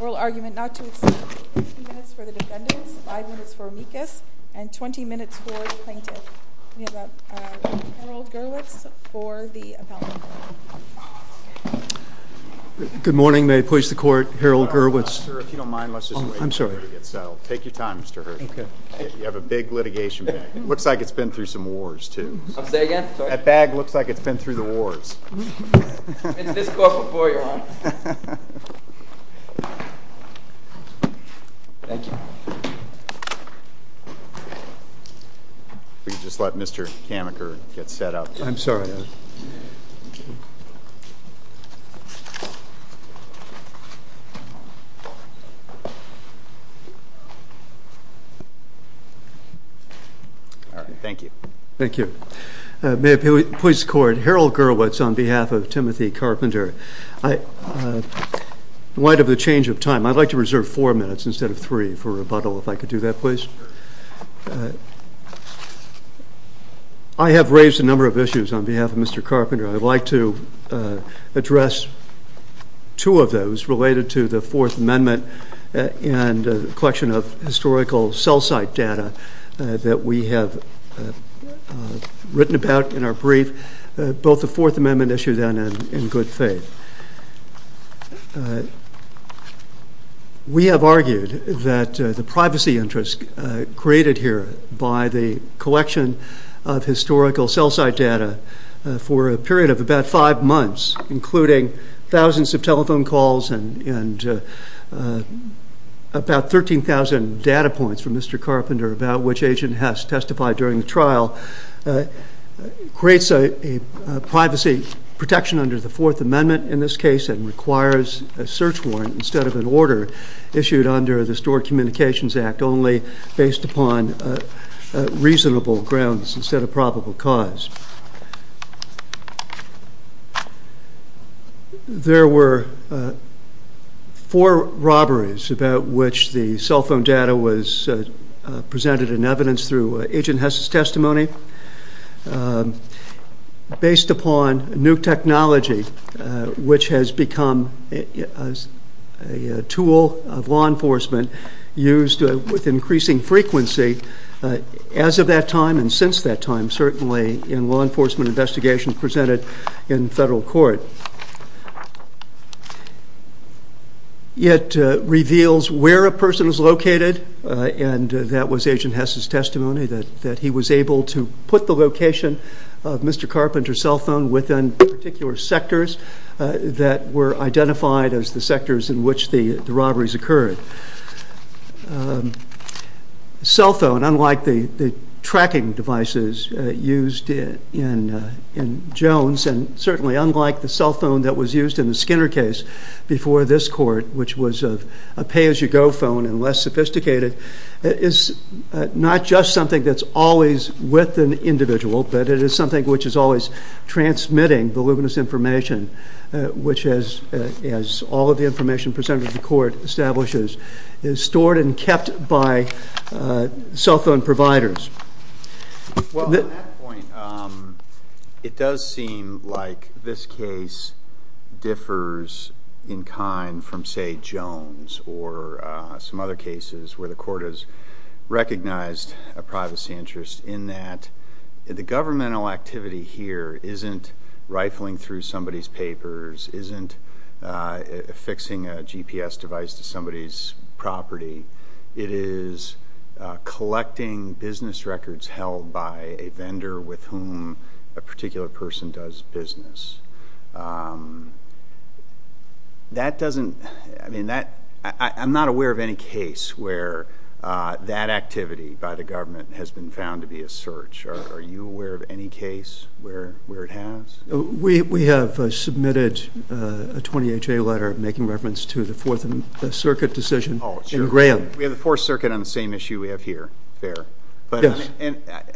Oral argument not to exceed 15 minutes for the defendants, 5 minutes for Meekus, and 20 minutes for the plaintiff. We have Harold Gerlitz for the appellant. Good morning. May it please the court, Harold Gerlitz. If you don't mind, let's just wait for it to get settled. Take your time, Mr. Hurd. You have a big litigation bag. It looks like it's been through some wars, too. I'll say again? That bag looks like it's been through the wars. It's this close before you, Your Honor. Thank you. If we could just let Mr. Kamaker get set up. I'm sorry. Thank you. Thank you. May it please the court, Harold Gerlitz on behalf of Timothy Carpenter. In light of the change of time, I'd like to reserve 4 minutes instead of 3 for rebuttal, if I could do that, please. I have raised a number of issues on behalf of Mr. Carpenter. I'd like to address 2 of those related to the 4th Amendment and the collection of historical cell site data that we have written about in our brief, both the 4th Amendment issue then and In Good Faith. We have argued that the privacy interest created here by the collection of historical cell site data for a period of about 5 months, including thousands of telephone calls and about 13,000 data points from Mr. Carpenter about which agent has testified during the trial, creates a privacy protection under the 4th Amendment in this case and requires a search warrant instead of an order issued under the Stored Communications Act only based upon reasonable grounds instead of probable cause. There were 4 robberies about which the cell phone data was presented in evidence through agent has testimony based upon new technology which has become a tool of law enforcement used with increasing frequency as of that time and since that time, certainly in law enforcement investigation presented in federal court. It reveals where a person is located and that was agent has testimony that he was able to put the location of Mr. Carpenter's cell phone within particular sectors that were identified as the sectors in which the robberies occurred. Cell phone, unlike the tracking devices used in Jones and certainly unlike the cell phone that was used in the Skinner case before this court which was a pay-as-you-go phone and less sophisticated, is not just something that's always with an individual but it is something which is always transmitting voluminous information which as all of the information presented to the court establishes is stored and kept by cell phone providers. Well, at that point, it does seem like this case differs in kind from say Jones or some other cases where the court has recognized a privacy interest in that the governmental activity here isn't rifling through somebody's papers, isn't fixing a GPS device to somebody's property. It is collecting business records held by a vendor with whom a particular person does business. I'm not aware of any case where that activity by the government has been found to be a search. Are you aware of any case where it has? We have submitted a 20HA letter making reference to the Fourth Circuit decision in Graham. We have the Fourth Circuit on the same issue we have here. Fair. Yes.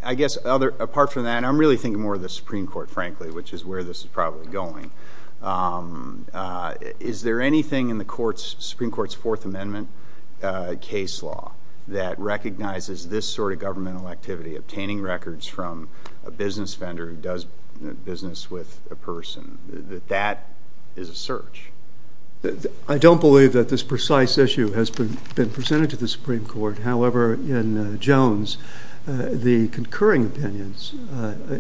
I guess apart from that, I'm really thinking more of the Supreme Court frankly which is where this is probably going. Is there anything in the Supreme Court's Fourth Amendment case law that recognizes this sort of governmental activity, obtaining records from a business vendor who does business with a person, that that is a search? I don't believe that this precise issue has been presented to the Supreme Court. However, in Jones, the concurring opinions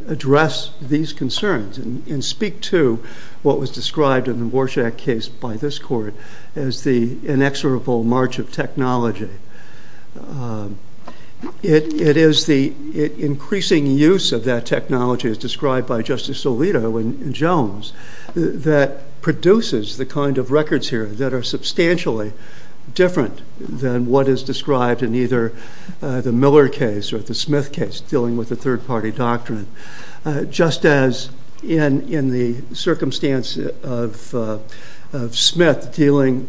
address these concerns and speak to what was described in the Warshak case by this court as the inexorable march of technology. It is the increasing use of that technology as described by Justice Alito in Jones that produces the kind of records here that are substantially different than what is described in either the Miller case or the Smith case dealing with the third party doctrine. Just as in the circumstance of Smith dealing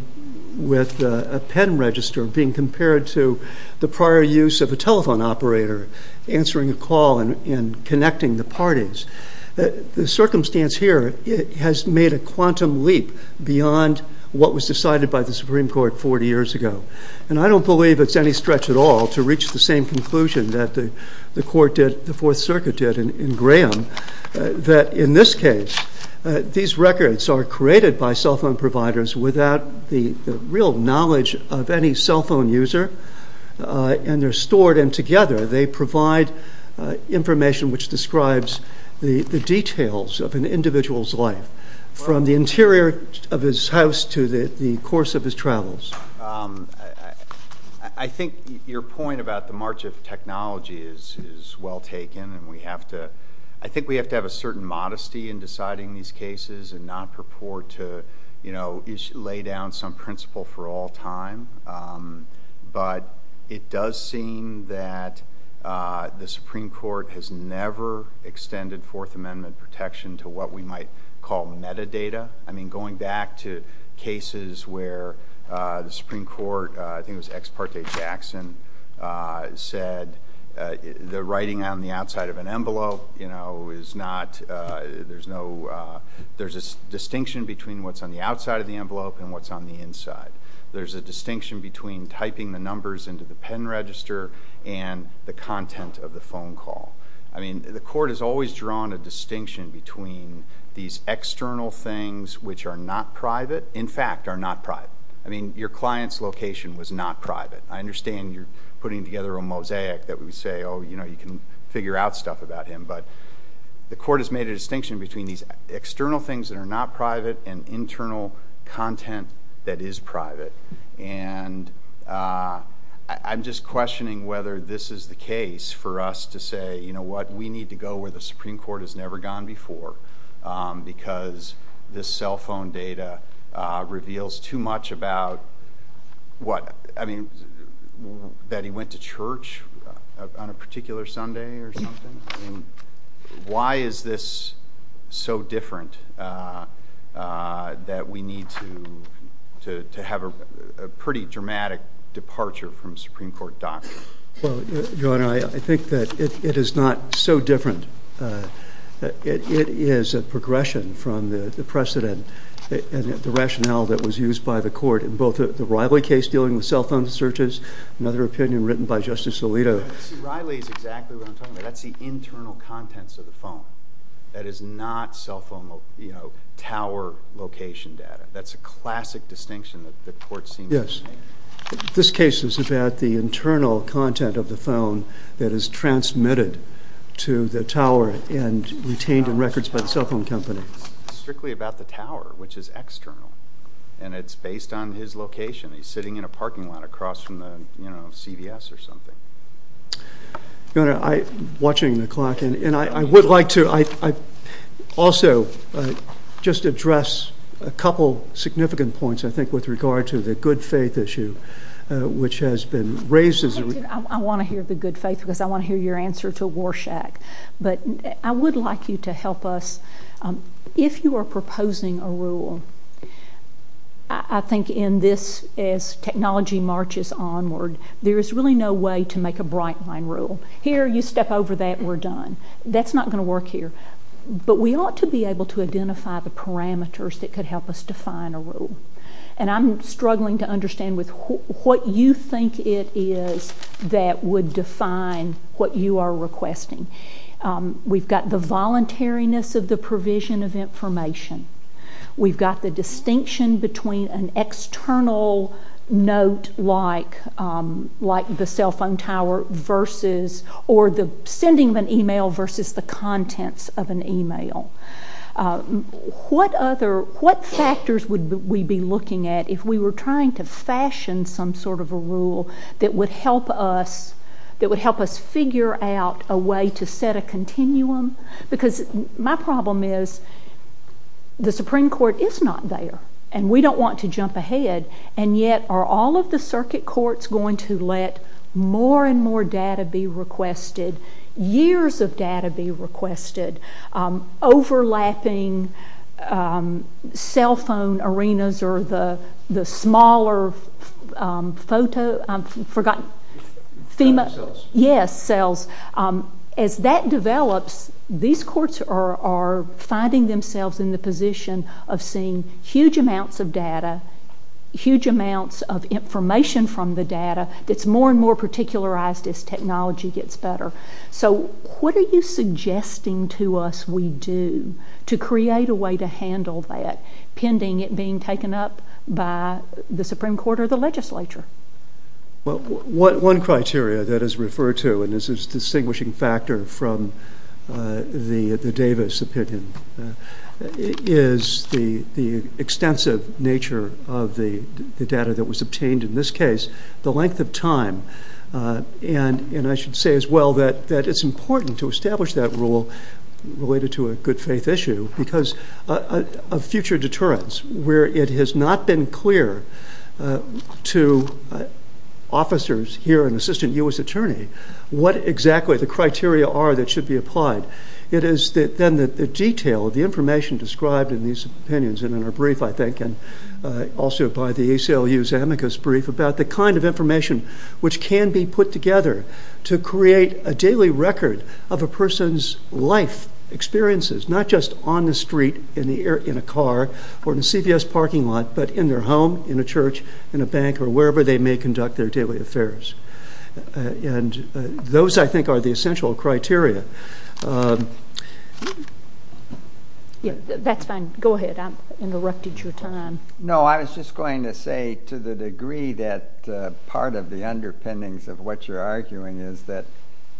with a pen register being compared to the prior use of a telephone operator answering a call and connecting the parties. The circumstance here has made a quantum leap beyond what was decided by the Supreme Court 40 years ago. And I don't believe it's any stretch at all to reach the same conclusion that the court did, the Fourth Circuit did in Graham that in this case these records are created by cell phone providers without the real knowledge of any cell phone user. And they're stored and together they provide information which describes the details of an individual's life from the interior of his house to the course of his travels. I think your point about the march of technology is well taken and I think we have to have a certain modesty in deciding these cases and not purport to lay down some principle for all time. But it does seem that the Supreme Court has never extended Fourth Amendment protection to what we might call metadata. I mean going back to cases where the Supreme Court, I think it was Ex parte Jackson, said the writing on the outside of an envelope is not, there's a distinction between what's on the outside of the envelope and what's on the inside. There's a distinction between typing the numbers into the pen register and the content of the phone call. I mean the court has always drawn a distinction between these external things which are not private, in fact are not private. I mean your client's location was not private. I understand you're putting together a mosaic that would say oh you know you can figure out stuff about him. But the court has made a distinction between these external things that are not private and internal content that is private. And I'm just questioning whether this is the case for us to say you know what we need to go where the Supreme Court has never gone before. Because this cell phone data reveals too much about what, I mean that he went to church on a particular Sunday or something. Why is this so different that we need to have a pretty dramatic departure from Supreme Court doctrine? Well, your Honor, I think that it is not so different. It is a progression from the precedent and the rationale that was used by the court in both the Riley case dealing with cell phone searches, another opinion written by Justice Alito. Riley is exactly what I'm talking about. That's the internal contents of the phone. That is not cell phone tower location data. That's a classic distinction that the court seems to make. Yes. This case is about the internal content of the phone that is transmitted to the tower and retained in records by the cell phone company. It's strictly about the tower which is external. And it's based on his location. He's sitting in a parking lot across from the CVS or something. Your Honor, I'm watching the clock and I would like to also just address a couple significant points I think with regard to the good faith issue which has been raised. I want to hear the good faith because I want to hear your answer to Warshak. But I would like you to help us. If you are proposing a rule, I think in this, as technology marches onward, there is really no way to make a bright line rule. Here, you step over that, we're done. That's not going to work here. But we ought to be able to identify the parameters that could help us define a rule. And I'm struggling to understand what you think it is that would define what you are requesting. We've got the voluntariness of the provision of information. We've got the distinction between an external note like the cell phone tower versus or the sending of an email versus the contents of an email. What factors would we be looking at if we were trying to fashion some sort of a rule that would help us figure out a way to set a continuum? Because my problem is the Supreme Court is not there and we don't want to jump ahead. And yet, are all of the circuit courts going to let more and more data be requested? Years of data be requested? Overlapping cell phone arenas or the smaller photo? I've forgotten. Cells. Yes, cells. As that develops, these courts are finding themselves in the position of seeing huge amounts of data, huge amounts of information from the data that's more and more particularized as technology gets better. So what are you suggesting to us we do to create a way to handle that pending it being taken up by the Supreme Court or the legislature? Well, one criteria that is referred to, and this is a distinguishing factor from the Davis opinion, is the extensive nature of the data that was obtained in this case, the length of time. And I should say as well that it's important to establish that rule related to a good faith issue because of future deterrence where it has not been clear to officers here and Assistant U.S. Attorney what exactly the criteria are that should be applied. It is then the detail of the information described in these opinions and in our brief, I think, and also by the ACLU's amicus brief about the kind of information which can be put together to create a daily record of a person's life experiences, not just on the street, in a car, or in a CVS parking lot, but in their home, in a church, in a bank, or wherever they may conduct their daily affairs. And those, I think, are the essential criteria. That's fine. Go ahead. I interrupted your time. No, I was just going to say to the degree that part of the underpinnings of what you're arguing is that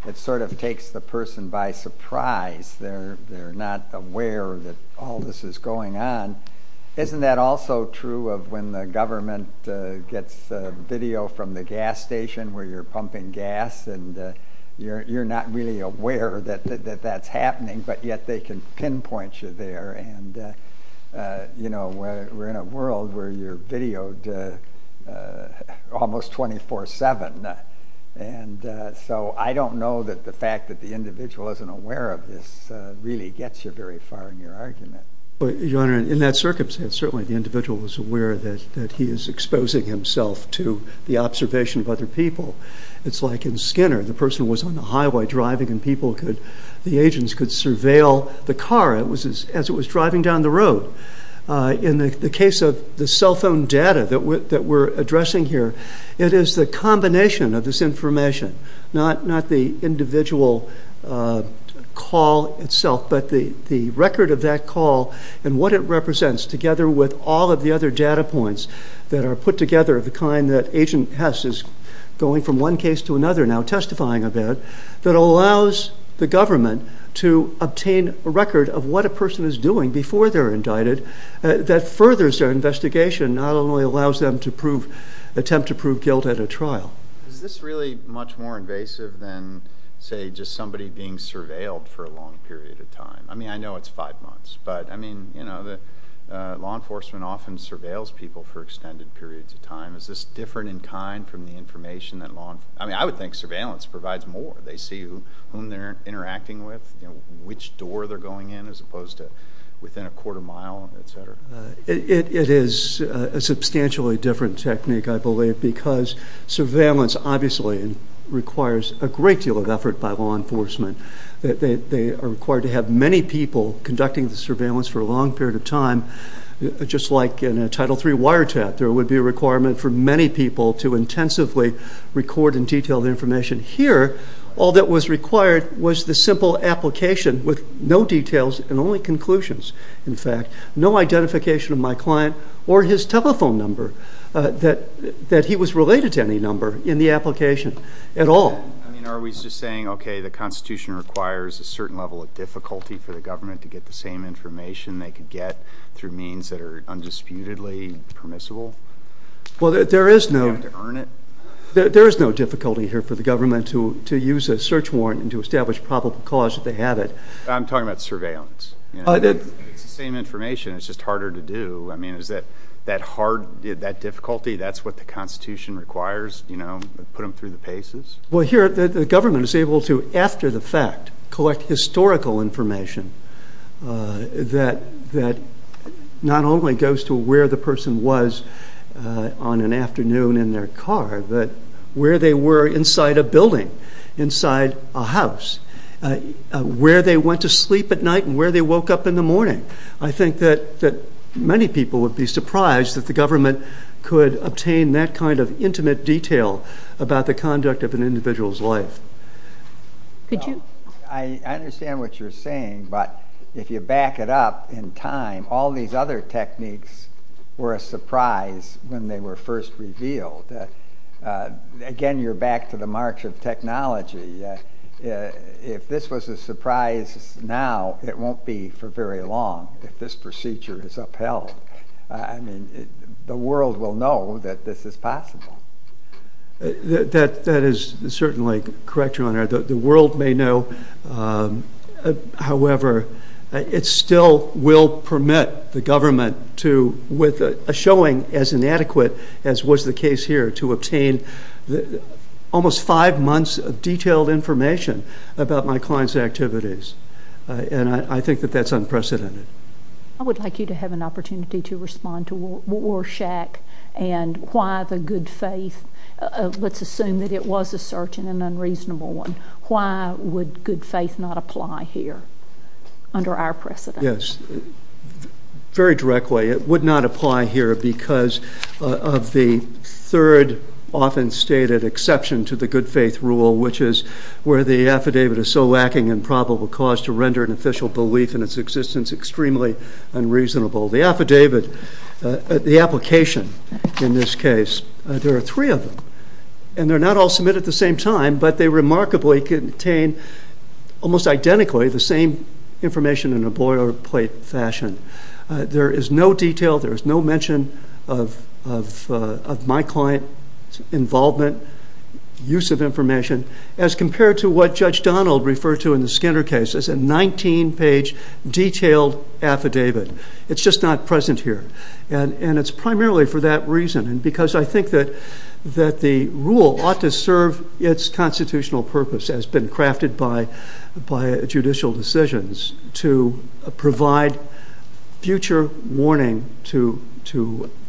it sort of takes the person by surprise. They're not aware that all this is going on. Isn't that also true of when the government gets video from the gas station where you're pumping gas and you're not really aware that that's happening, but yet they can pinpoint you there. And, you know, we're in a world where you're videoed almost 24-7. And so I don't know that the fact that the individual isn't aware of this really gets you very far in your argument. Your Honor, in that circumstance, certainly the individual is aware that he is exposing himself to the observation of other people. It's like in Skinner. The person was on the highway driving and the agents could surveil the car. It was as it was driving down the road. In the case of the cell phone data that we're addressing here, it is the combination of this information, not the individual call itself, but the record of that call and what it represents together with all of the other data points that are put together of the kind that Agent Hess is going from one case to another now testifying about that allows the government to obtain a record of what a person is doing before they're indicted that furthers their investigation, not only allows them to attempt to prove guilt at a trial. Is this really much more invasive than, say, just somebody being surveilled for a long period of time? I mean, I know it's five months, but I mean, you know, law enforcement often surveils people for extended periods of time. Is this different in kind from the information that law enforcement provides? I mean, I would think surveillance provides more. They see whom they're interacting with, which door they're going in as opposed to within a quarter mile, et cetera. It is a substantially different technique, I believe, because surveillance obviously requires a great deal of effort by law enforcement. They are required to have many people conducting the surveillance for a long period of time. Just like in a Title III wiretap, there would be a requirement for many people to intensively record and detail the information. Here, all that was required was the simple application with no details and only conclusions, in fact, no identification of my client or his telephone number, that he was related to any number in the application at all. I mean, are we just saying, okay, the Constitution requires a certain level of difficulty for the government to get the same information they could get through means that are undisputedly permissible? Do you have to earn it? There is no difficulty here for the government to use a search warrant and to establish probable cause if they have it. I'm talking about surveillance. It's the same information. It's just harder to do. I mean, is that hard, that difficulty, that's what the Constitution requires, you know, put them through the paces? Well, here, the government is able to, after the fact, collect historical information that not only goes to where the person was on an afternoon in their car, but where they were inside a building, inside a house, where they went to sleep at night and where they woke up in the morning. I think that many people would be surprised that the government could obtain that kind of intimate detail about the conduct of an individual's life. I understand what you're saying, but if you back it up in time, all these other techniques were a surprise when they were first revealed. Again, you're back to the march of technology. If this was a surprise now, it won't be for very long if this procedure is upheld. I mean, the world will know that this is possible. That is certainly correct, Your Honor. The world may know, however, it still will permit the government to, with a showing as inadequate as was the case here, to obtain almost five months of detailed information about my client's activities, and I think that that's unprecedented. I would like you to have an opportunity to respond to Warshak and why the good faith, let's assume that it was a certain and unreasonable one, why would good faith not apply here under our precedent? Yes, very directly, it would not apply here because of the third often stated exception to the good faith rule, which is where the affidavit is so lacking in probable cause to render an official belief in its existence extremely unreasonable. The affidavit, the application in this case, there are three of them, and they're not all submitted at the same time, but they remarkably contain almost identically the same information in a boilerplate fashion. There is no detail, there is no mention of my client's involvement, use of information, as compared to what Judge Donald referred to in the Skinner case as a 19-page detailed affidavit. It's just not present here, and it's primarily for that reason, and because I think that the rule ought to serve its constitutional purpose as been crafted by judicial decisions to provide future warning to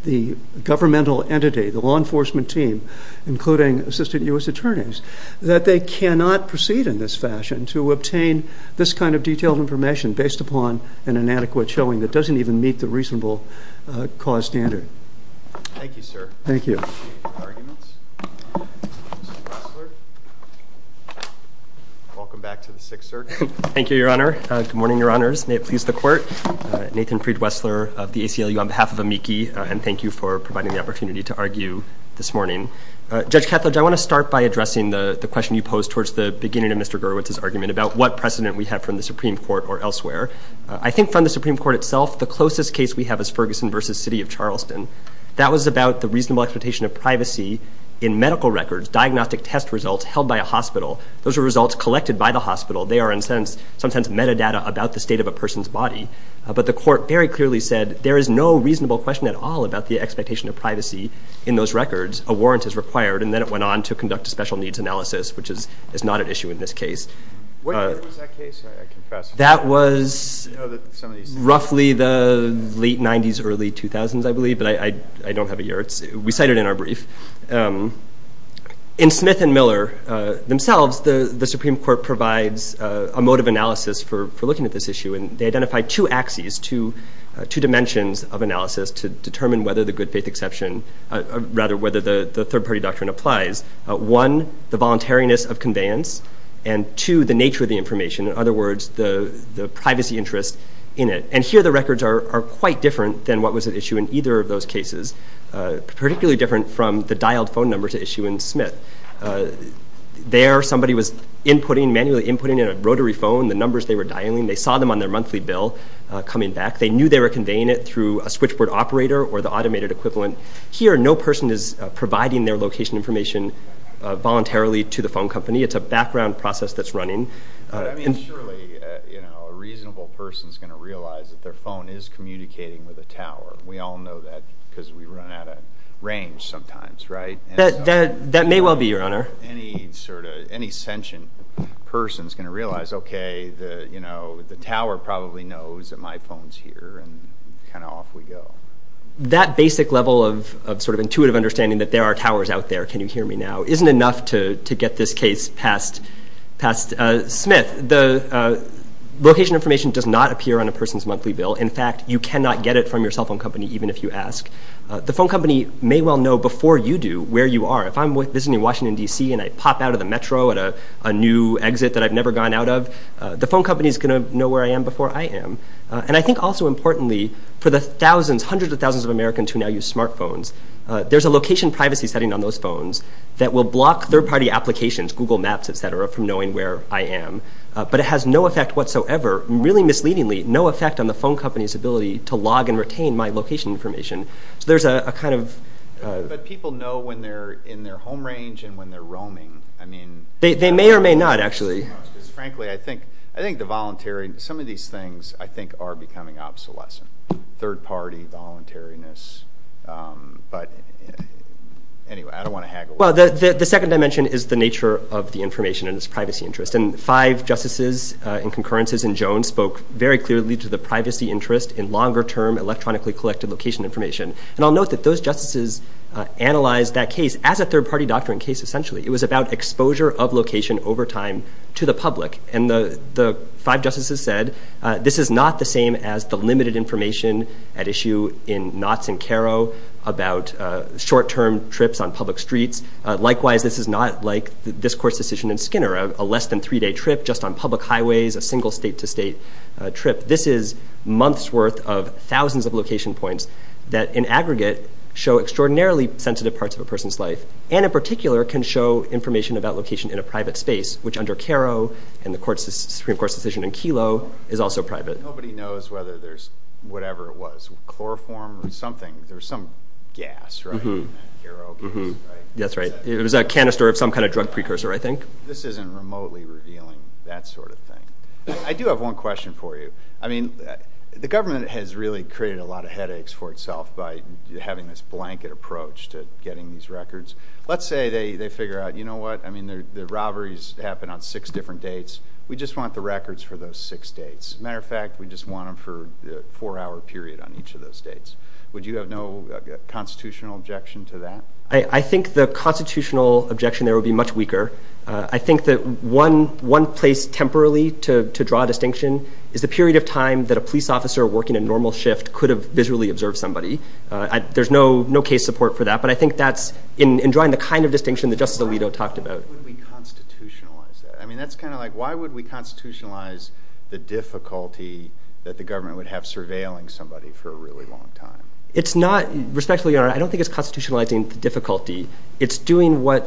the governmental entity, the law enforcement team, including assistant U.S. attorneys, that they cannot proceed in this fashion to obtain this kind of detailed information based upon an inadequate showing that doesn't even meet the reasonable cause standard. Thank you, sir. Thank you. Welcome back to the Sixth Circuit. Thank you, Your Honor. Good morning, Your Honors. May it please the Court. Nathan Fried-Wessler of the ACLU on behalf of AMICI, and thank you for providing the opportunity to argue this morning. Judge Kattledge, I want to start by addressing the question you posed towards the beginning of Mr. Gerwitz's argument about what precedent we have from the Supreme Court or elsewhere. I think from the Supreme Court itself, the closest case we have is Ferguson v. City of Charleston. That was about the reasonable expectation of privacy in medical records, diagnostic test results held by a hospital. Those are results collected by the hospital. They are, in some sense, metadata about the state of a person's body. But the Court very clearly said there is no reasonable question at all about the expectation of privacy in those records. A warrant is required, and then it went on to conduct a special needs analysis, which is not at issue in this case. When was that case, I confess? That was roughly the late 90s, early 2000s, I believe, but I don't have a year. We cite it in our brief. In Smith and Miller themselves, the Supreme Court provides a mode of analysis for looking at this issue, and they identify two axes, two dimensions of analysis to determine whether the good faith exception, rather, whether the third-party doctrine applies. One, the voluntariness of conveyance, and two, the nature of the information. In other words, the privacy interest in it. And here, the records are quite different than what was at issue in either of those cases, particularly different from the dialed phone number to issue in Smith. There, somebody was inputting, manually inputting in a rotary phone the numbers they were dialing. They saw them on their monthly bill coming back. They knew they were conveying it through a switchboard operator or the automated equivalent. Here, no person is providing their location information voluntarily to the phone company. It's a background process that's running. I mean, surely, you know, a reasonable person is going to realize that their phone is communicating with a tower. We all know that because we run out of range sometimes, right? That may well be, Your Honor. Any sort of, any sentient person is going to realize, okay, you know, the tower probably knows that my phone is here and kind of off we go. That basic level of sort of intuitive understanding that there are towers out there, can you hear me now, isn't enough to get this case past Smith. The location information does not appear on a person's monthly bill. In fact, you cannot get it from your cell phone company even if you ask. The phone company may well know before you do where you are. If I'm visiting Washington, D.C., and I pop out of the metro at a new exit that I've never gone out of, the phone company is going to know where I am before I am. And I think also importantly, for the thousands, hundreds of thousands of Americans who now use smartphones, there's a location privacy setting on those phones that will block third-party applications, Google Maps, et cetera, from knowing where I am. But it has no effect whatsoever, really misleadingly, no effect on the phone company's ability to log and retain my location information. So there's a kind of... But people know when they're in their home range and when they're roaming. I mean... They may or may not, actually. Frankly, I think the voluntary, some of these things, I think, are becoming obsolescent. Third-party voluntariness. But anyway, I don't want to haggle with that. Well, the second dimension is the nature of the information and its privacy interest. And five justices in concurrence in Jones spoke very clearly to the privacy interest in longer-term electronically collected location information. And I'll note that those justices analyzed that case as a third-party doctrine case, essentially. It was about exposure of location over time to the public. And the five justices said this is not the same as the limited information at issue in Knotts and Caro about short-term trips on public streets. Likewise, this is not like this court's decision in Skinner, a less-than-three-day trip just on public highways, a single state-to-state trip. This is months' worth of thousands of location points that, in aggregate, show extraordinarily sensitive parts of a person's life and, in particular, can show information about location in a private space, which under Caro and the Supreme Court's decision in Kelo is also private. Nobody knows whether there's whatever it was, chloroform or something. There's some gas, right, in that Caro case, right? That's right. It was a canister of some kind of drug precursor, I think. This isn't remotely revealing that sort of thing. I do have one question for you. I mean, the government has really created a lot of headaches for itself by having this blanket approach to getting these records. Let's say they figure out, you know what, I mean, the robberies happen on six different dates. We just want the records for those six dates. As a matter of fact, we just want them for a four-hour period on each of those dates. Would you have no constitutional objection to that? I think the constitutional objection there would be much weaker. I think that one place temporarily to draw a distinction is the period of time that a police officer working a normal shift could have visually observed somebody. There's no case support for that, but I think that's in drawing the kind of distinction that Justice Alito talked about. Why would we constitutionalize that? I mean, that's kind of like, why would we constitutionalize the difficulty that the government would have surveilling somebody for a really long time? It's not, respectfully, Your Honor, I don't think it's constitutionalizing the difficulty. It's doing what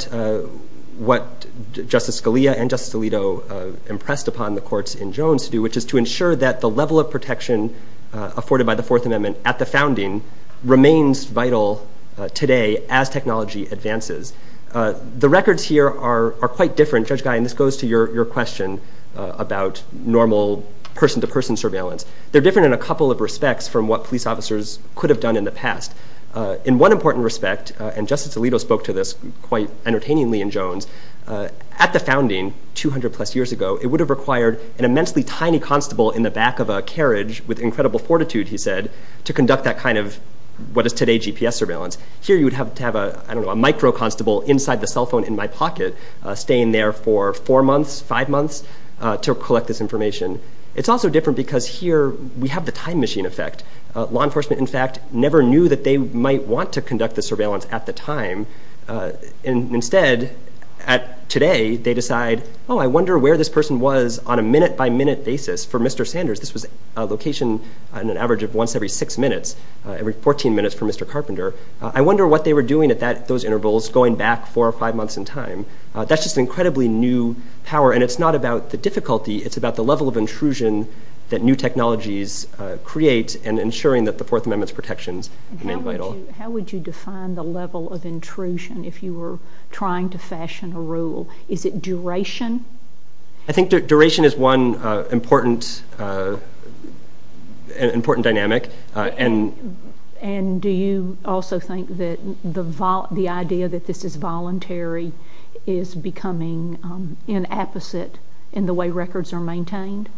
Justice Scalia and Justice Alito impressed upon the courts in Jones to do, which is to ensure that the level of protection afforded by the Fourth Amendment at the founding remains vital today as technology advances. The records here are quite different, Judge Guy, and this goes to your question about normal person-to-person surveillance. They're different in a couple of respects from what police officers could have done in the past. In one important respect, and Justice Alito spoke to this quite entertainingly in Jones, at the founding, 200-plus years ago, it would have required an immensely tiny constable in the back of a carriage with incredible fortitude, he said, to conduct that kind of what is today GPS surveillance. Here you would have to have, I don't know, a micro-constable inside the cell phone in my pocket staying there for four months, five months, to collect this information. It's also different because here we have the time machine effect. Law enforcement, in fact, never knew that they might want to conduct the surveillance at the time, and instead, today, they decide, oh, I wonder where this person was on a minute-by-minute basis. For Mr. Sanders, this was a location on an average of once every six minutes, every 14 minutes for Mr. Carpenter. I wonder what they were doing at those intervals going back four or five months in time. That's just incredibly new power, and it's not about the difficulty. It's about the level of intrusion that new technologies create and ensuring that the Fourth Amendment's protections remain vital. How would you define the level of intrusion if you were trying to fashion a rule? Is it duration? I think duration is one important dynamic. And do you also think that the idea that this is voluntary is becoming an apposite in the way records are maintained?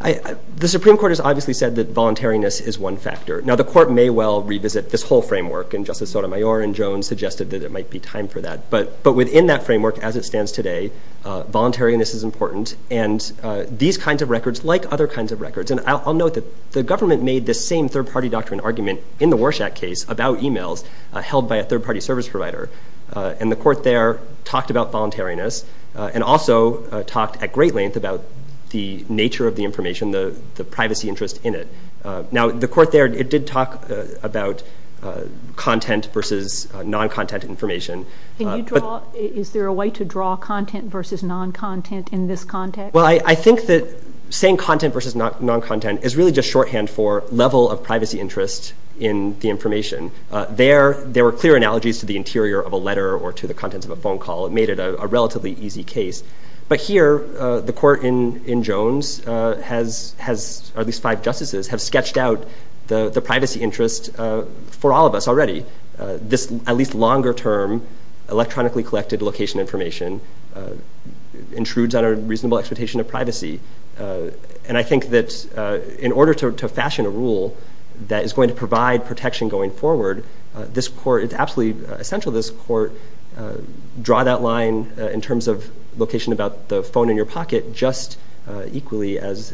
The Supreme Court has obviously said that voluntariness is one factor. Now, the Court may well revisit this whole framework, and Justice Sotomayor and Jones suggested that it might be time for that, but within that framework as it stands today, voluntariness is important. And these kinds of records, like other kinds of records, and I'll note that the government made this same third-party doctrine argument in the Warshak case about emails held by a third-party service provider. And the Court there talked about voluntariness and also talked at great length about the nature of the information, the privacy interest in it. Now, the Court there did talk about content versus non-content information. Is there a way to draw content versus non-content in this context? Well, I think that saying content versus non-content is really just shorthand for level of privacy interest in the information. There were clear analogies to the interior of a letter or to the contents of a phone call. It made it a relatively easy case. But here, the Court in Jones has at least five justices have sketched out the privacy interest for all of us already, and this, at least longer term, electronically collected location information intrudes on a reasonable expectation of privacy. And I think that in order to fashion a rule that is going to provide protection going forward, it's absolutely essential this Court draw that line in terms of location about the phone in your pocket just equally as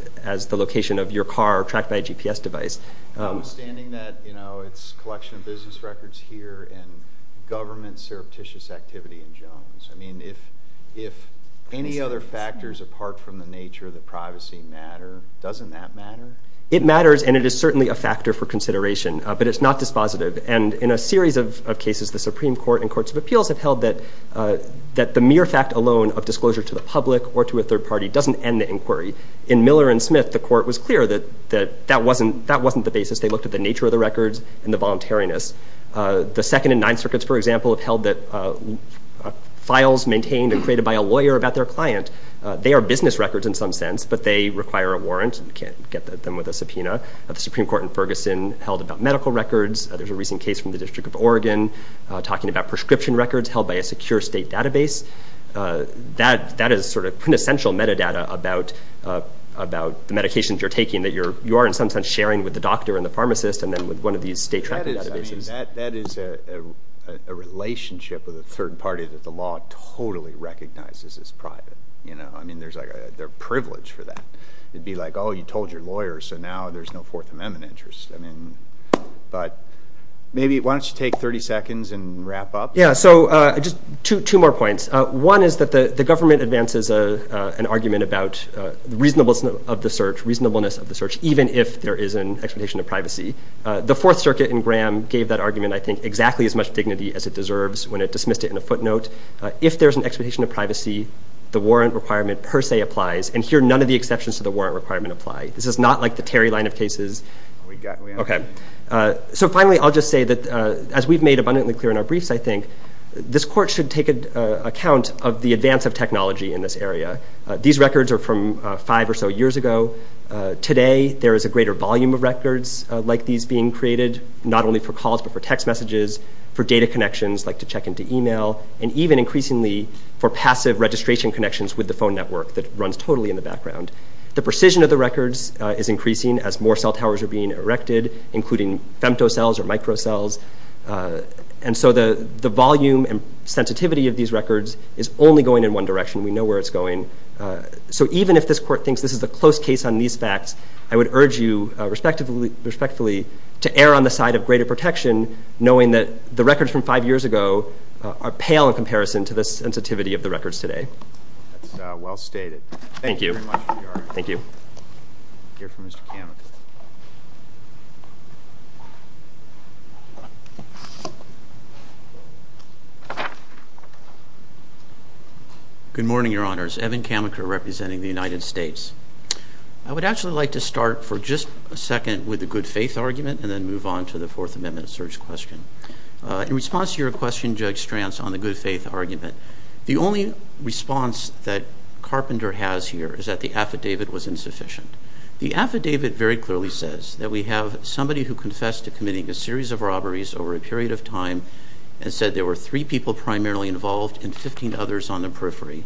the location of your car tracked by a GPS device. Notwithstanding that, you know, it's a collection of business records here and government surreptitious activity in Jones. I mean, if any other factors apart from the nature of the privacy matter, doesn't that matter? It matters, and it is certainly a factor for consideration, but it's not dispositive. And in a series of cases, the Supreme Court and courts of appeals have held that the mere fact alone of disclosure to the public or to a third party doesn't end the inquiry. In Miller and Smith, the Court was clear that that wasn't the basis. They looked at the nature of the records and the voluntariness. The Second and Ninth Circuits, for example, have held that files maintained and created by a lawyer about their client, they are business records in some sense, but they require a warrant. You can't get them with a subpoena. The Supreme Court in Ferguson held about medical records. There's a recent case from the District of Oregon talking about prescription records held by a secure state database. That is sort of quintessential metadata about the medications you're taking that you are in some sense sharing with the doctor and the pharmacist and then with one of these state-tracked databases. That is a relationship with a third party that the law totally recognizes as private. I mean, there's a privilege for that. It'd be like, oh, you told your lawyer, so now there's no Fourth Amendment interest. I mean, but maybe why don't you take 30 seconds and wrap up? Yeah, so just two more points. One is that the government advances an argument about reasonableness of the search, even if there is an expectation of privacy. The Fourth Circuit in Graham gave that argument, I think, exactly as much dignity as it deserves when it dismissed it in a footnote. If there's an expectation of privacy, the warrant requirement per se applies, and here none of the exceptions to the warrant requirement apply. This is not like the Terry line of cases. Okay, so finally I'll just say that, as we've made abundantly clear in our briefs, I think, this court should take account of the advance of technology in this area. These records are from five or so years ago. Today there is a greater volume of records like these being created, not only for calls but for text messages, for data connections like to check into email, and even increasingly for passive registration connections with the phone network that runs totally in the background. The precision of the records is increasing as more cell towers are being erected, including femtocells or microcells, and so the volume and sensitivity of these records is only going in one direction. We know where it's going. So even if this court thinks this is a close case on these facts, I would urge you, respectfully, to err on the side of greater protection, knowing that the records from five years ago are pale in comparison to the sensitivity of the records today. That's well stated. Thank you. Thank you very much, Your Honor. Thank you. We'll hear from Mr. Kammacher. Good morning, Your Honors. Evan Kammacher representing the United States. I would actually like to start for just a second with the good faith argument and then move on to the Fourth Amendment search question. In response to your question, Judge Stranz, on the good faith argument, the only response that Carpenter has here is that the affidavit was insufficient. The affidavit very clearly says that we have somebody who confessed to committing a series of robberies over a period of time and said there were three people primarily involved and 15 others on the periphery.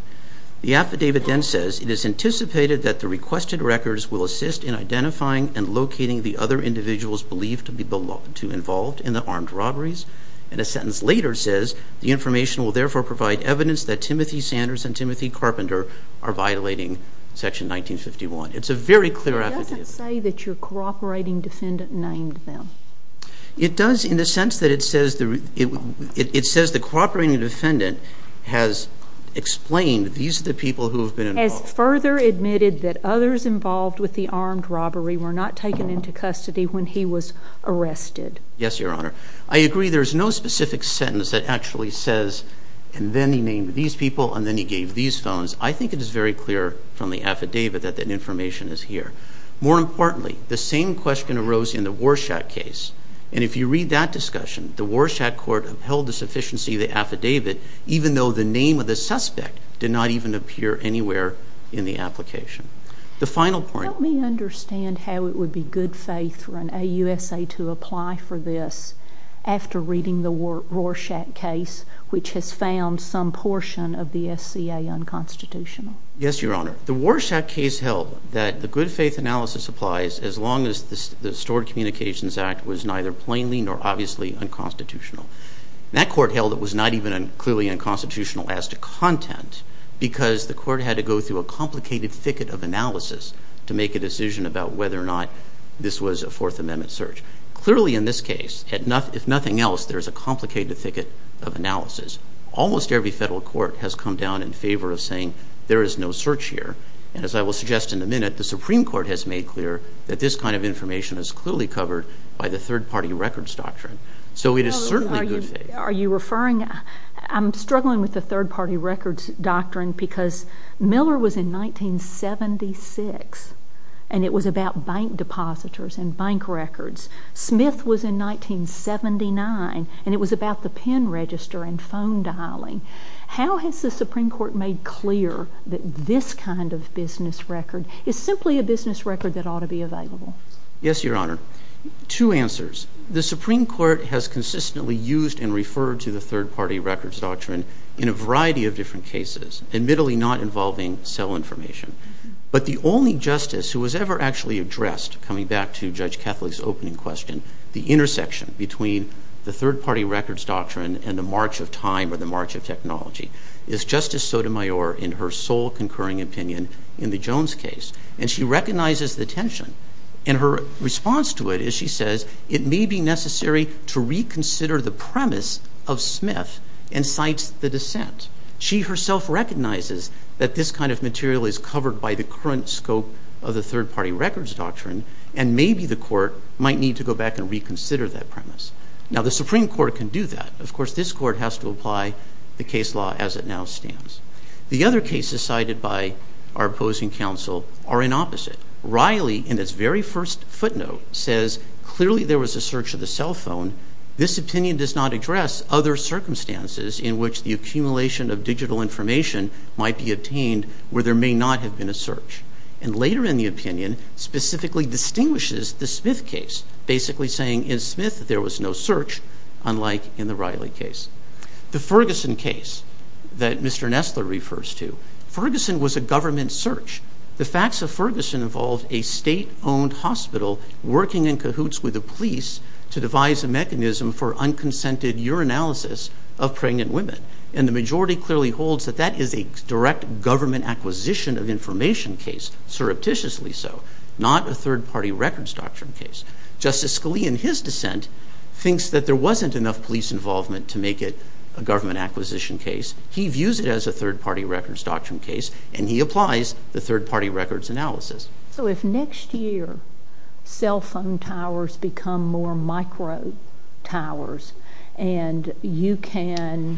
The affidavit then says, it is anticipated that the requested records will assist in identifying and locating the other individuals believed to be involved in the armed robberies. And a sentence later says, the information will therefore provide evidence that Timothy Sanders and Timothy Carpenter are violating Section 1951. It's a very clear affidavit. It doesn't say that your cooperating defendant named them. It does in the sense that it says the cooperating defendant has explained these are the people who have been involved. Has further admitted that others involved with the armed robbery were not taken into custody when he was arrested. Yes, Your Honor. I agree there's no specific sentence that actually says, and then he named these people and then he gave these phones. I think it is very clear from the affidavit that that information is here. More importantly, the same question arose in the Warshak case. And if you read that discussion, the Warshak court upheld the sufficiency of the affidavit even though the name of the suspect did not even appear anywhere in the application. The final point... Let me understand how it would be good faith for an AUSA to apply for this after reading the Warshak case, which has found some portion of the SCA unconstitutional. Yes, Your Honor. The Warshak case held that the good faith analysis applies as long as the Stored Communications Act was neither plainly nor obviously unconstitutional. That court held it was not even clearly unconstitutional as to content because the court had to go through a complicated thicket of analysis to make a decision about whether or not this was a Fourth Amendment search. Clearly in this case, if nothing else, there is a complicated thicket of analysis. Almost every federal court has come down in favor of saying there is no search here. And as I will suggest in a minute, the Supreme Court has made clear that this kind of information is clearly covered by the Third Party Records Doctrine. So it is certainly good faith. Are you referring... I'm struggling with the Third Party Records Doctrine because Miller was in 1976, and it was about bank depositors and bank records. Smith was in 1979, and it was about the pen register and phone dialing. How has the Supreme Court made clear that this kind of business record is simply a business record that ought to be available? Yes, Your Honor. Two answers. The Supreme Court has consistently used and referred to the Third Party Records Doctrine in a variety of different cases, admittedly not involving cell information. But the only justice who has ever actually addressed, coming back to Judge Catholic's opening question, the intersection between the Third Party Records Doctrine and the march of time or the march of technology is Justice Sotomayor in her sole concurring opinion in the Jones case. And she recognizes the tension. And her response to it is, she says, it may be necessary to reconsider the premise of Smith and cites the dissent. She herself recognizes that this kind of material is covered by the current scope of the Third Party Records Doctrine, and maybe the court might need to go back and reconsider that premise. Now, the Supreme Court can do that. Of course, this court has to apply the case law as it now stands. The other cases cited by our opposing counsel are an opposite. Riley, in its very first footnote, says, clearly there was a search of the cell phone. This opinion does not address other circumstances in which the accumulation of digital information might be obtained where there may not have been a search. And later in the opinion, specifically distinguishes the Smith case, basically saying in Smith there was no search, unlike in the Riley case. The Ferguson case that Mr. Nestler refers to, Ferguson was a government search. The facts of Ferguson involved a state-owned hospital working in cahoots with the police to devise a mechanism for unconsented urinalysis of pregnant women. And the majority clearly holds that that is a direct government acquisition of information case, surreptitiously so, not a Third Party Records Doctrine case. Justice Scalia, in his dissent, thinks that there wasn't enough police involvement to make it a government acquisition case. He views it as a Third Party Records Doctrine case, and he applies the Third Party Records analysis. So if next year cell phone towers become more micro towers and you can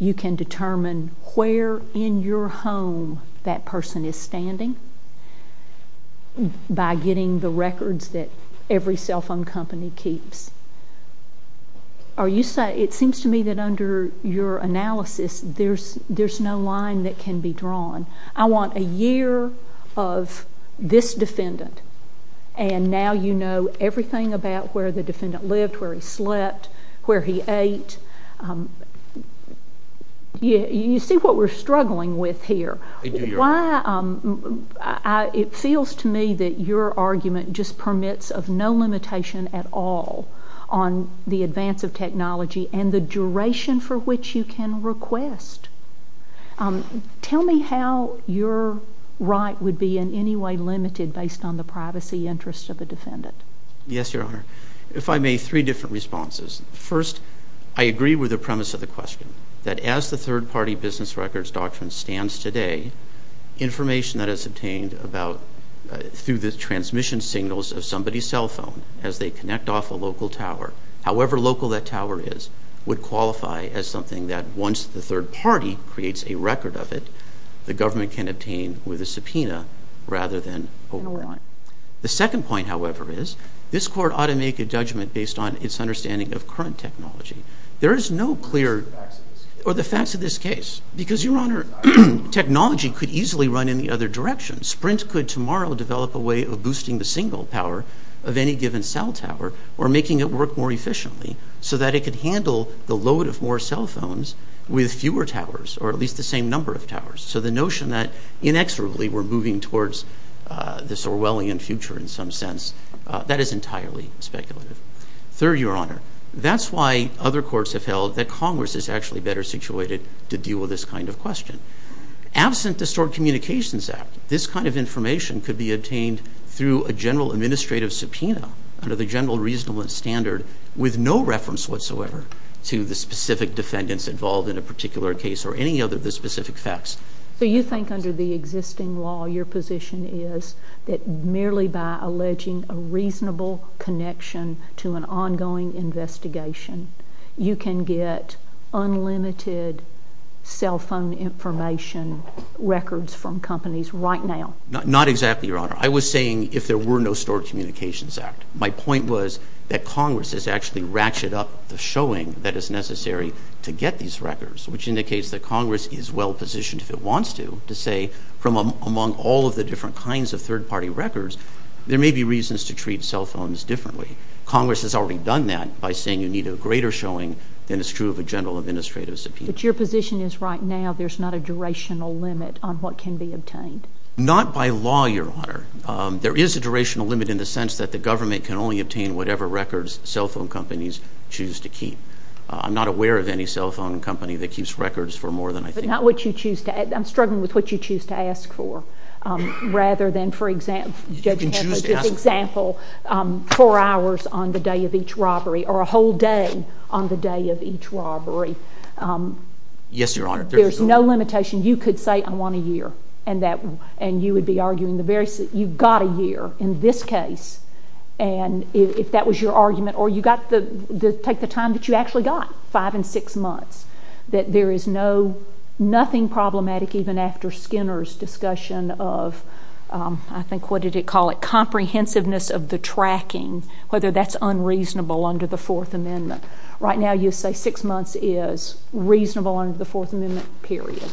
determine where in your home that person is standing by getting the records that every cell phone company keeps, it seems to me that under your analysis there's no line that can be drawn. I want a year of this defendant, and now you know everything about where the defendant lived, where he slept, where he ate. You see what we're struggling with here. It feels to me that your argument just permits of no limitation at all on the advance of technology and the duration for which you can request. Tell me how your right would be in any way limited based on the privacy interests of a defendant. Yes, Your Honor. If I may, three different responses. First, I agree with the premise of the question that as the Third Party Business Records Doctrine stands today, information that is obtained through the transmission signals of somebody's cell phone as they connect off a local tower, however local that tower is, would qualify as something that once the third party creates a record of it, the government can obtain with a subpoena rather than overline. The second point, however, is this court ought to make a judgment based on its understanding of current technology. There is no clear... Or the facts of this case. Or the facts of this case. Because, Your Honor, technology could easily run in the other direction. Sprint could tomorrow develop a way of boosting the single power of any given cell tower or making it work more efficiently so that it could handle the load of more cell phones with fewer towers or at least the same number of towers. So the notion that inexorably we're moving towards this Orwellian future in some sense, that is entirely speculative. Third, Your Honor, that's why other courts have held that Congress is actually better situated to deal with this kind of question. Absent the Stored Communications Act, this kind of information could be obtained through a general administrative subpoena under the general reasonable standard with no reference whatsoever to the specific defendants involved in a particular case or any other of the specific facts. So you think under the existing law, your position is that merely by alleging a reasonable connection to an ongoing investigation, you can get unlimited cell phone information records from companies right now? Not exactly, Your Honor. I was saying if there were no Stored Communications Act. My point was that Congress has actually ratcheted up the showing that is necessary to get these records, which indicates that Congress is well positioned, if it wants to, to say from among all of the different kinds of third-party records, there may be reasons to treat cell phones differently. Congress has already done that by saying you need a greater showing than is true of a general administrative subpoena. But your position is right now there's not a durational limit on what can be obtained? Not by law, Your Honor. There is a durational limit in the sense that the government can only obtain whatever records cell phone companies choose to keep. I'm not aware of any cell phone company that keeps records for more than I think... But not what you choose to... I'm struggling with what you choose to ask for rather than, for example... You can choose to ask for... For example, four hours on the day of each robbery or a whole day on the day of each robbery. Yes, Your Honor. There's no limitation. You could say I want a year and you would be arguing the very... You've got a year in this case. And if that was your argument... Or you take the time that you actually got, five and six months, that there is nothing problematic even after Skinner's discussion of... I think, what did he call it? Comprehensiveness of the tracking, whether that's unreasonable under the Fourth Amendment. Right now you say six months is reasonable under the Fourth Amendment, period.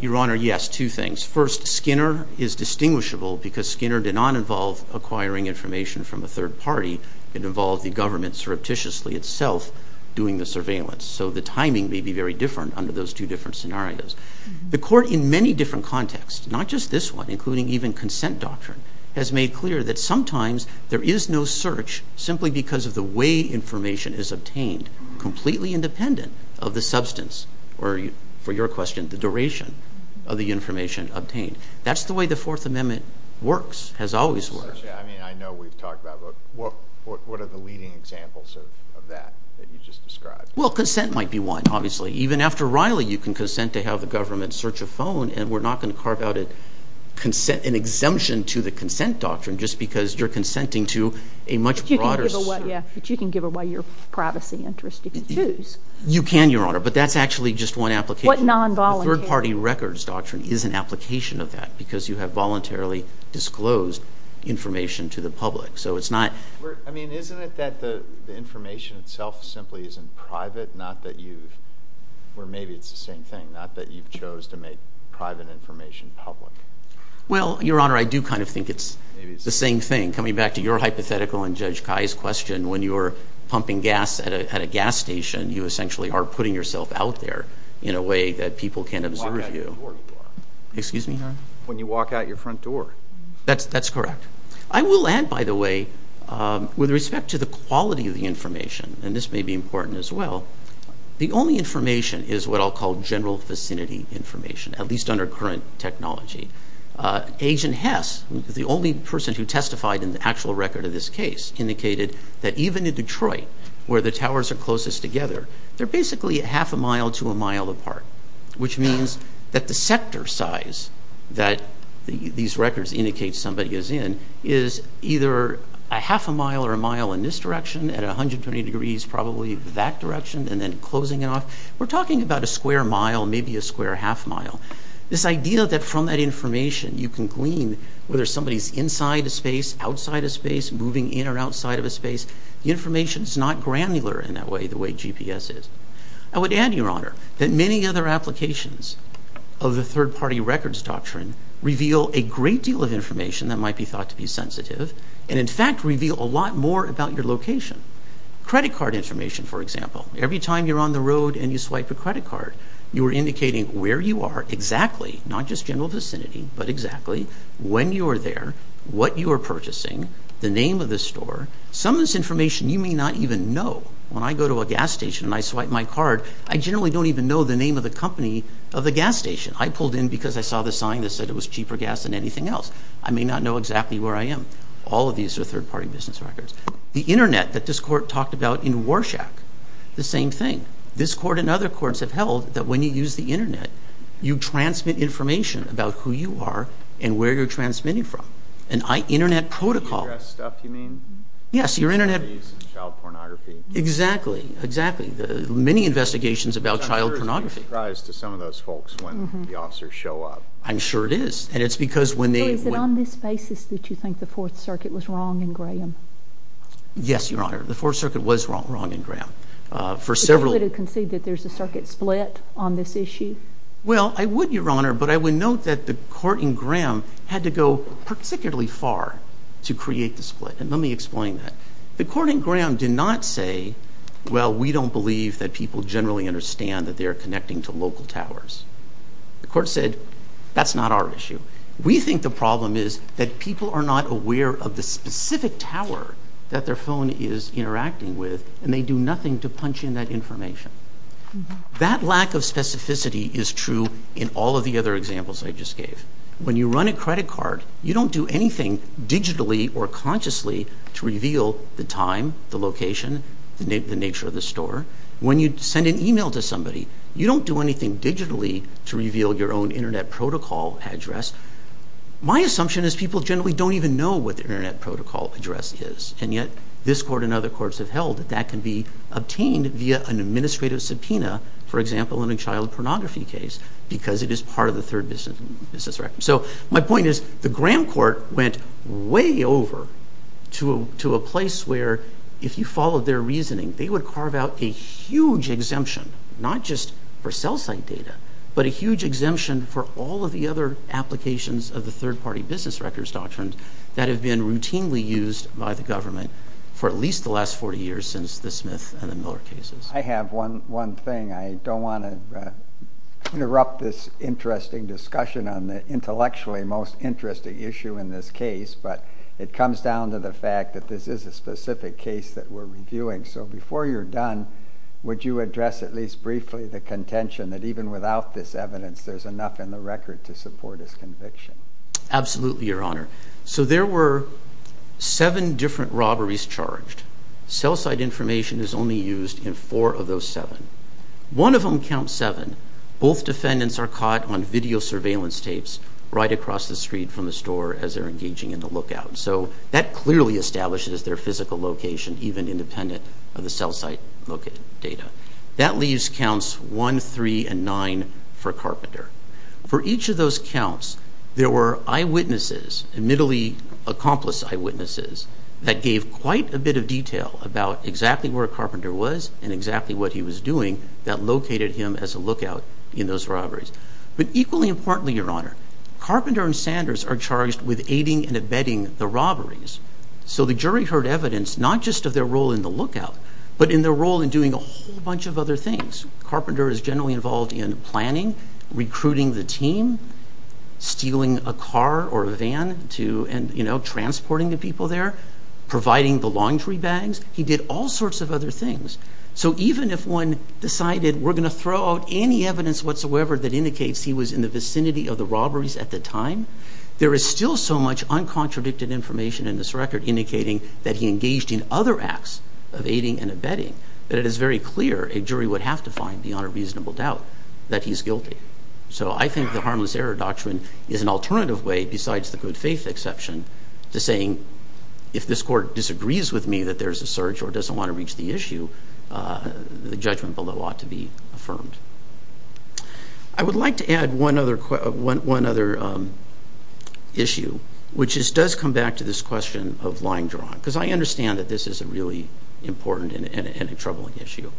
Your Honor, yes, two things. First, Skinner is distinguishable because Skinner did not involve acquiring information from a third party. It involved the government surreptitiously itself doing the surveillance. So the timing may be very different under those two different scenarios. The Court in many different contexts, not just this one, including even consent doctrine, has made clear that sometimes there is no search simply because of the way information is obtained completely independent of the substance or, for your question, the duration of the information obtained. That's the way the Fourth Amendment works, has always worked. I mean, I know we've talked about it, but what are the leading examples of that that you just described? Well, consent might be one, obviously. Even after Riley, you can consent to have the government search a phone and we're not going to carve out an exemption to the consent doctrine just because you're consenting to a much broader search. But you can give away your privacy interest. You can choose. You can, Your Honor, but that's actually just one application. What non-voluntary... The third party records doctrine is an application of that because you have voluntarily disclosed information to the public. So it's not... I mean, isn't it that the information itself simply isn't private, not that you've... Or maybe it's the same thing, not that you've chose to make private information public. Well, Your Honor, I do kind of think it's the same thing. Coming back to your hypothetical and Judge Kai's question, when you're pumping gas at a gas station, you essentially are putting yourself out there in a way that people can't observe you. Excuse me, Your Honor? When you walk out your front door. That's correct. I will add, by the way, with respect to the quality of the information, and this may be important as well, the only information is what I'll call general vicinity information, at least under current technology. Agent Hess, the only person who testified in the actual record of this case, indicated that even in Detroit, where the towers are closest together, they're basically half a mile to a mile apart, which means that the sector size that these records indicate somebody is in is either a half a mile or a mile in this direction, at 120 degrees, probably that direction, and then closing it off. We're talking about a square mile, maybe a square half mile. This idea that from that information, you can glean whether somebody's inside a space, outside a space, moving in or outside of a space, the information's not granular in that way, the way GPS is. I would add, Your Honor, that many other applications of the third-party records doctrine reveal a great deal of information that might be thought to be sensitive, and in fact reveal a lot more about your location. Credit card information, for example. Every time you're on the road and you swipe a credit card, you are indicating where you are exactly, not just general vicinity, but exactly when you are there, what you are purchasing, the name of the store. Some of this information you may not even know. When I go to a gas station and I swipe my card, I generally don't even know the name of the company of the gas station. I pulled in because I saw the sign that said it was cheaper gas than anything else. I may not know exactly where I am. All of these are third-party business records. The Internet that this Court talked about in Warshak, the same thing. This Court and other courts have held that when you use the Internet, you transmit information about who you are and where you're transmitting from. An Internet protocol... You mean U.S. stuff, you mean? Yes, your Internet... Child pornography. Exactly, exactly. Many investigations about child pornography. I'm sure it's a surprise to some of those folks when the officers show up. I'm sure it is. And it's because when they... So is it on this basis that you think the Fourth Circuit was wrong in Graham? Yes, your Honor. The Fourth Circuit was wrong in Graham. For several... Would you have conceded that there's a circuit split on this issue? Well, I would, your Honor, but I would note that the Court in Graham had to go particularly far to create the split. And let me explain that. The Court in Graham did not say, well, we don't believe that people generally understand that they are connecting to local towers. The Court said, that's not our issue. We think the problem is that people are not aware of the specific tower that their phone is interacting with, and they do nothing to punch in that information. That lack of specificity is true in all of the other examples I just gave. When you run a credit card, you don't do anything digitally or consciously to reveal the time, the location, the nature of the store. When you send an email to somebody, you don't do anything digitally to reveal your own Internet protocol address. My assumption is people generally don't even know what the Internet protocol address is, and yet this Court and other courts have held that that can be obtained via an administrative subpoena, for example, in a child pornography case, because it is part of the Third Business Record. My point is, the Graham Court went way over to a place where, if you followed their reasoning, they would carve out a huge exemption, not just for cell site data, but a huge exemption for all of the other applications of the Third Party Business Records Doctrine that have been routinely used by the government for at least the last 40 years since the Smith and the Miller cases. I have one thing. I don't want to interrupt this interesting discussion on the intellectually most interesting issue in this case, but it comes down to the fact that this is a specific case that we're reviewing. So before you're done, would you address at least briefly the contention that even without this evidence, there's enough in the record to support his conviction? Absolutely, Your Honor. So there were seven different robberies charged. Cell site information is only used in four of those seven. One of them counts seven. Both defendants are caught on video surveillance tapes right across the street from the store as they're engaging in the lookout. So that clearly establishes their physical location, even independent of the cell site-located data. That leaves counts one, three, and nine for Carpenter. For each of those counts, there were eyewitnesses, admittedly accomplice eyewitnesses, that gave quite a bit of detail about exactly where Carpenter was and exactly what he was doing that located him as a lookout in those robberies. But equally importantly, Your Honor, Carpenter and Sanders are charged with aiding and abetting the robberies. So the jury heard evidence not just of their role in the lookout, but in their role in doing a whole bunch of other things. Carpenter is generally involved in planning, recruiting the team, stealing a car or a van to... and, you know, transporting the people there, providing the laundry bags. He did all sorts of other things. So even if one decided, we're going to throw out any evidence whatsoever that indicates he was in the vicinity of the robberies at the time, there is still so much uncontradicted information in this record indicating that he engaged in other acts of aiding and abetting that it is very clear a jury would have to find, beyond a reasonable doubt, that he's guilty. So I think the harmless error doctrine is an alternative way, besides the good faith exception, to saying, if this court disagrees with me that there's a search or doesn't want to reach the issue, the judgment below ought to be affirmed. I would like to add one other issue, which does come back to this question of line drawing, because I understand that this is a really important and a troubling issue.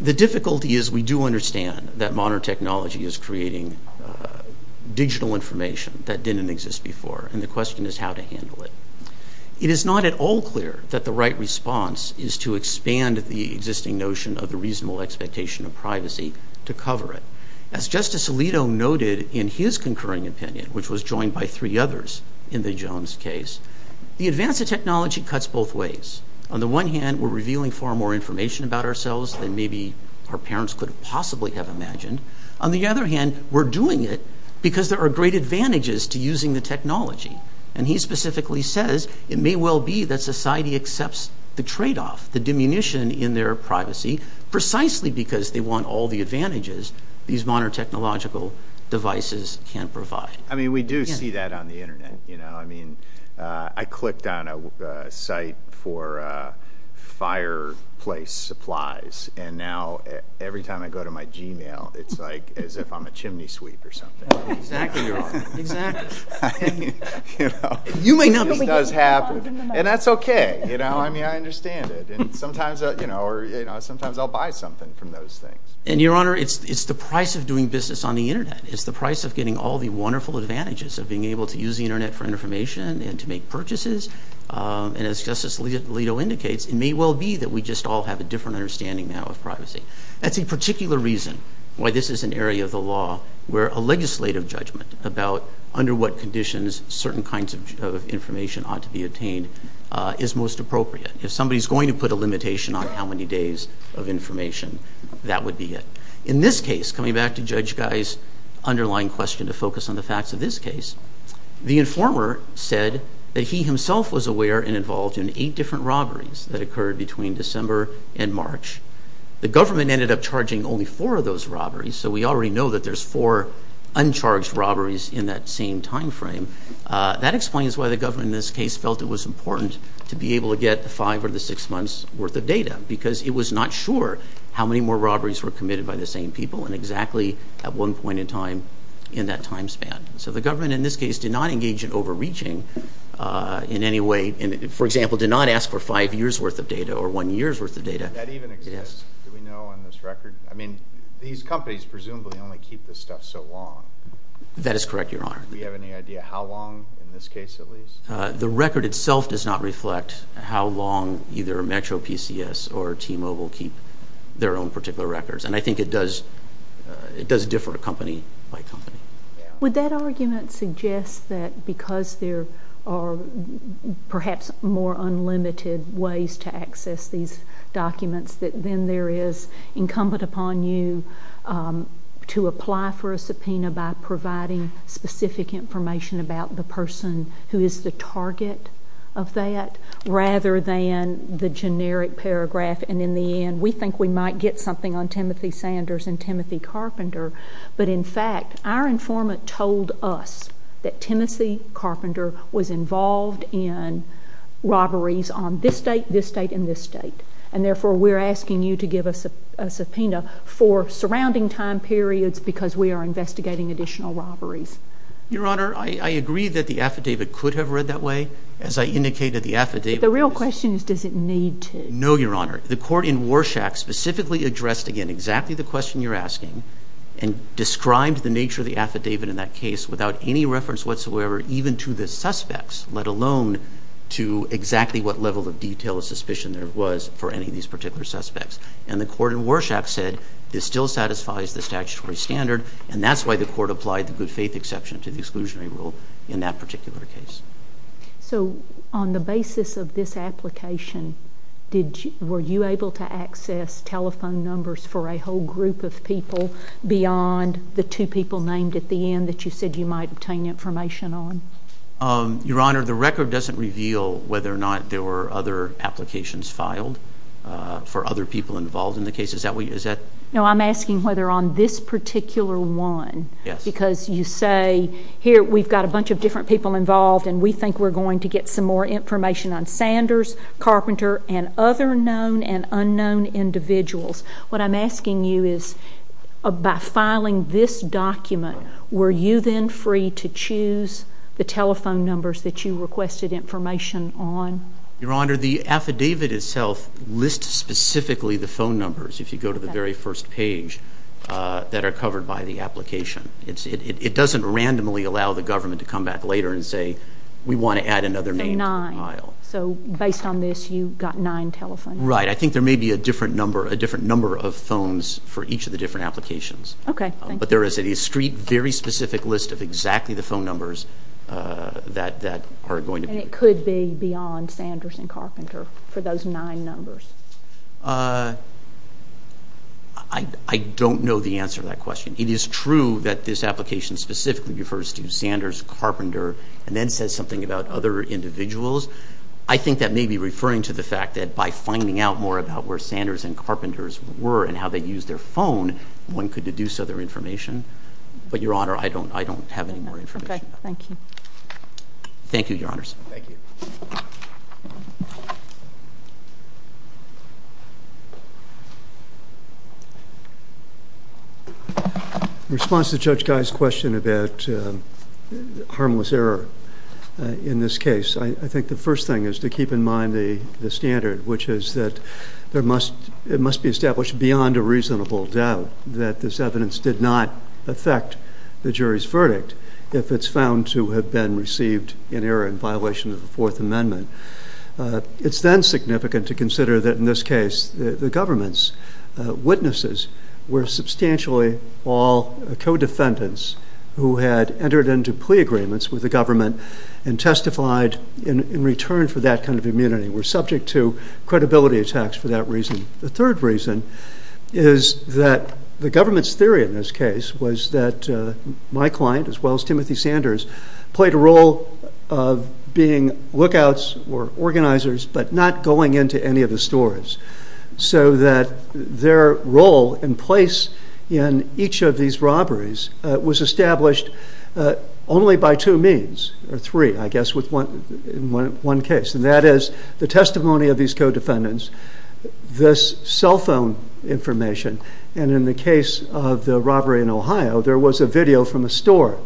The difficulty is we do understand that modern technology is creating digital information that didn't exist before, and the question is how to handle it. It is not at all clear that the right response is to expand the existing notion of the reasonable expectation of privacy to cover it. As Justice Alito noted in his concurring opinion, which was joined by three others in the Jones case, the advance of technology cuts both ways. On the one hand, we're revealing far more information about ourselves than maybe our parents could have possibly have imagined. On the other hand, we're doing it because there are great advantages to using the technology. He specifically says it may well be that society accepts the trade-off, the diminution in their privacy, precisely because they want all the advantages these modern technological devices can provide. We do see that on the Internet. I clicked on a site for fireplace supplies, and now every time I go to my Gmail, it's like as if I'm a chimney sweep or something. Exactly, Your Honor. This does happen, and that's okay. I understand it. Sometimes I'll buy something from those things. Your Honor, it's the price of doing business on the Internet. It's the price of getting all the wonderful advantages of being able to use the Internet for information and to make purchases. As Justice Alito indicates, it may well be that we just all have a different understanding now of privacy. That's a particular reason why this is an area of the law where a legislative judgment about under what conditions certain kinds of information ought to be obtained is most appropriate. If somebody's going to put a limitation on how many days of information, that would be it. In this case, coming back to Judge Guy's underlying question to focus on the facts of this case, the informer said that he himself was aware and involved in eight different robberies that occurred between December and March. The government ended up charging only four of those robberies, so we already know that there's four uncharged robberies in that same time frame. That explains why the government in this case felt it was important to be able to get the five or the six months' worth of data because it was not sure how many more robberies were committed by the same people and exactly at one point in time in that time span. So the government in this case did not engage in overreaching in any way. For example, did not ask for five years' worth of data or one year's worth of data. Does that even exist? Do we know on this record? I mean, these companies presumably only keep this stuff so long. That is correct, Your Honor. Do we have any idea how long, in this case at least? The record itself does not reflect how long either Metro PCS or T-Mobile keep their own particular records, and I think it does differ company by company. Would that argument suggest that because there are perhaps more unlimited ways to access these documents that then there is incumbent upon you to apply for a subpoena by providing specific information about the person who is the target of that rather than the generic paragraph, and in the end we think we might get something on Timothy Sanders and Timothy Carpenter, but in fact our informant told us that Timothy Carpenter was involved in robberies on this state, this state, and this state, and therefore we're asking you to give us a subpoena for surrounding time periods because we are investigating additional robberies. Your Honor, I agree that the affidavit could have read that way. As I indicated, the affidavit was... The real question is does it need to? No, Your Honor. The court in Warshack specifically addressed, again, exactly the question you're asking and described the nature of the affidavit in that case without any reference whatsoever even to the suspects, let alone to exactly what level of detail of suspicion there was for any of these particular suspects, and the court in Warshack said this still satisfies the statutory standard and that's why the court applied the good faith exception to the exclusionary rule in that particular case. So on the basis of this application, were you able to access telephone numbers for a whole group of people beyond the two people named at the end that you said you might obtain information on? Your Honor, the record doesn't reveal whether or not there were other applications filed for other people involved in the case. Is that what you... No, I'm asking whether on this particular one because you say, here we've got a bunch of different people involved and we think we're going to get some more information on Sanders, Carpenter, and other known and unknown individuals. What I'm asking you is by filing this document were you then free to choose the telephone numbers that you requested information on? Your Honor, the affidavit itself lists specifically the phone numbers if you go to the very first page that are covered by the application. It doesn't randomly allow the government to come back later and say, we want to add another name to the file. So based on this, you got nine telephone numbers. Right, I think there may be a different number of phones for each of the different applications. Okay, thank you. But there is a very specific list of exactly the phone numbers that are going to be... And it could be beyond Sanders and Carpenter for those nine numbers. I don't know the answer to that question. It is true that this application specifically refers to Sanders, Carpenter, and then says something about other individuals. I think that may be referring to the fact that by finding out more about where Sanders and Carpenters were and how they used their phone, one could deduce other information. But, Your Honor, I don't have any more information. Okay, thank you. Thank you, Your Honors. Thank you. In response to Judge Guy's question about harmless error in this case, I think the first thing is to keep in mind the standard, which is that it must be established beyond a reasonable doubt that this evidence did not affect the jury's verdict if it's found to have been received in error in violation of the Fourth Amendment. It's then significant to consider that in this case the government's witnesses were substantially all co-defendants who had entered into plea agreements with the government and testified in return for that kind of immunity and were subject to credibility attacks for that reason. The third reason is that the government's theory in this case was that my client, as well as Timothy Sanders, played a role of being lookouts or organizers but not going into any of the stores so that their role and place in each of these robberies was established only by two means, or three, I guess, in one case. And that is the testimony of these co-defendants, this cell phone information, and in the case of the robbery in Ohio, there was a video from a store,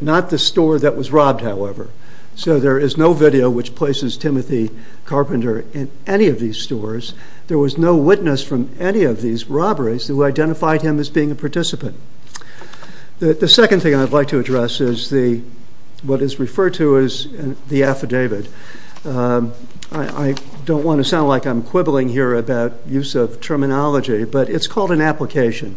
not the store that was robbed, however. So there is no video which places Timothy Carpenter in any of these stores. There was no witness from any of these robberies who identified him as being a participant. The second thing I'd like to address is what is referred to as the affidavit. I don't want to sound like I'm quibbling here about use of terminology, but it's called an application.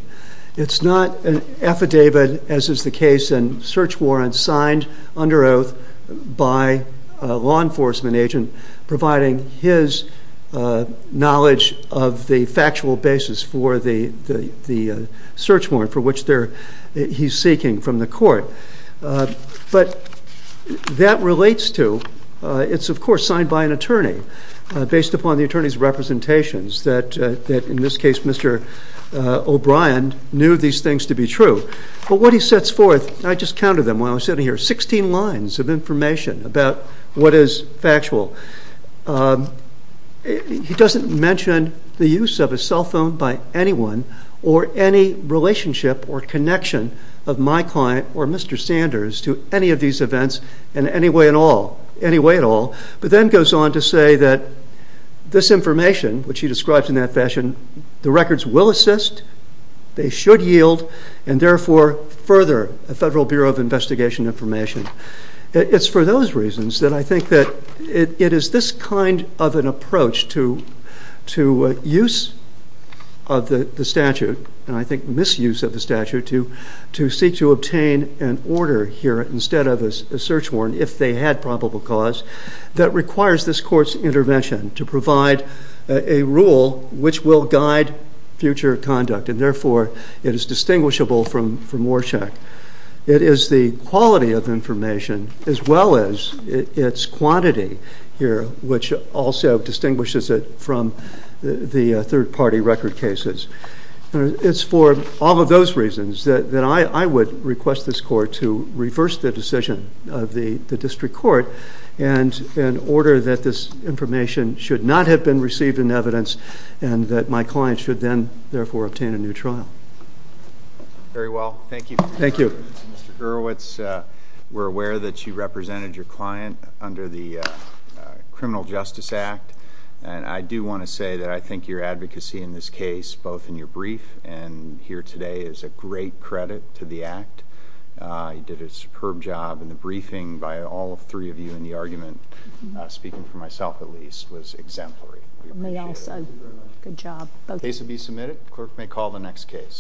It's not an affidavit, as is the case in search warrants signed under oath by a law enforcement agent providing his knowledge of the factual basis for the search warrant for which he's seeking from the court. But that relates to... It's, of course, signed by an attorney based upon the attorney's representations that, in this case, Mr. O'Brien knew these things to be true. But what he sets forth, and I just counted them while I was sitting here, 16 lines of information about what is factual. He doesn't mention the use of a cell phone by anyone or any relationship or connection of my client or Mr. Sanders to any of these events in any way at all. But then goes on to say that this information, which he describes in that fashion, the records will assist, they should yield, and therefore further a Federal Bureau of Investigation information. It's for those reasons that I think that it is this kind of an approach to use of the statute, and I think misuse of the statute, to seek to obtain an order here instead of a search warrant if they had probable cause that requires this court's intervention to provide a rule which will guide future conduct, and therefore it is distinguishable from Warshak. It is the quality of information as well as its quantity here which also distinguishes it from the third-party record cases. It's for all of those reasons that I would request this court to reverse the decision of the district court in order that this information should not have been received in evidence and that my client should then therefore obtain a new trial. Very well. Thank you. Thank you. Mr. Gurwitz, we're aware that you represented your client under the Criminal Justice Act, and I do want to say that I think your advocacy in this case, both in your brief and here today, is a great credit to the Act. You did a superb job, and the briefing by all three of you in the argument, speaking for myself at least, was exemplary. We appreciate it. Good job. Case will be submitted. Clerk may call the next case.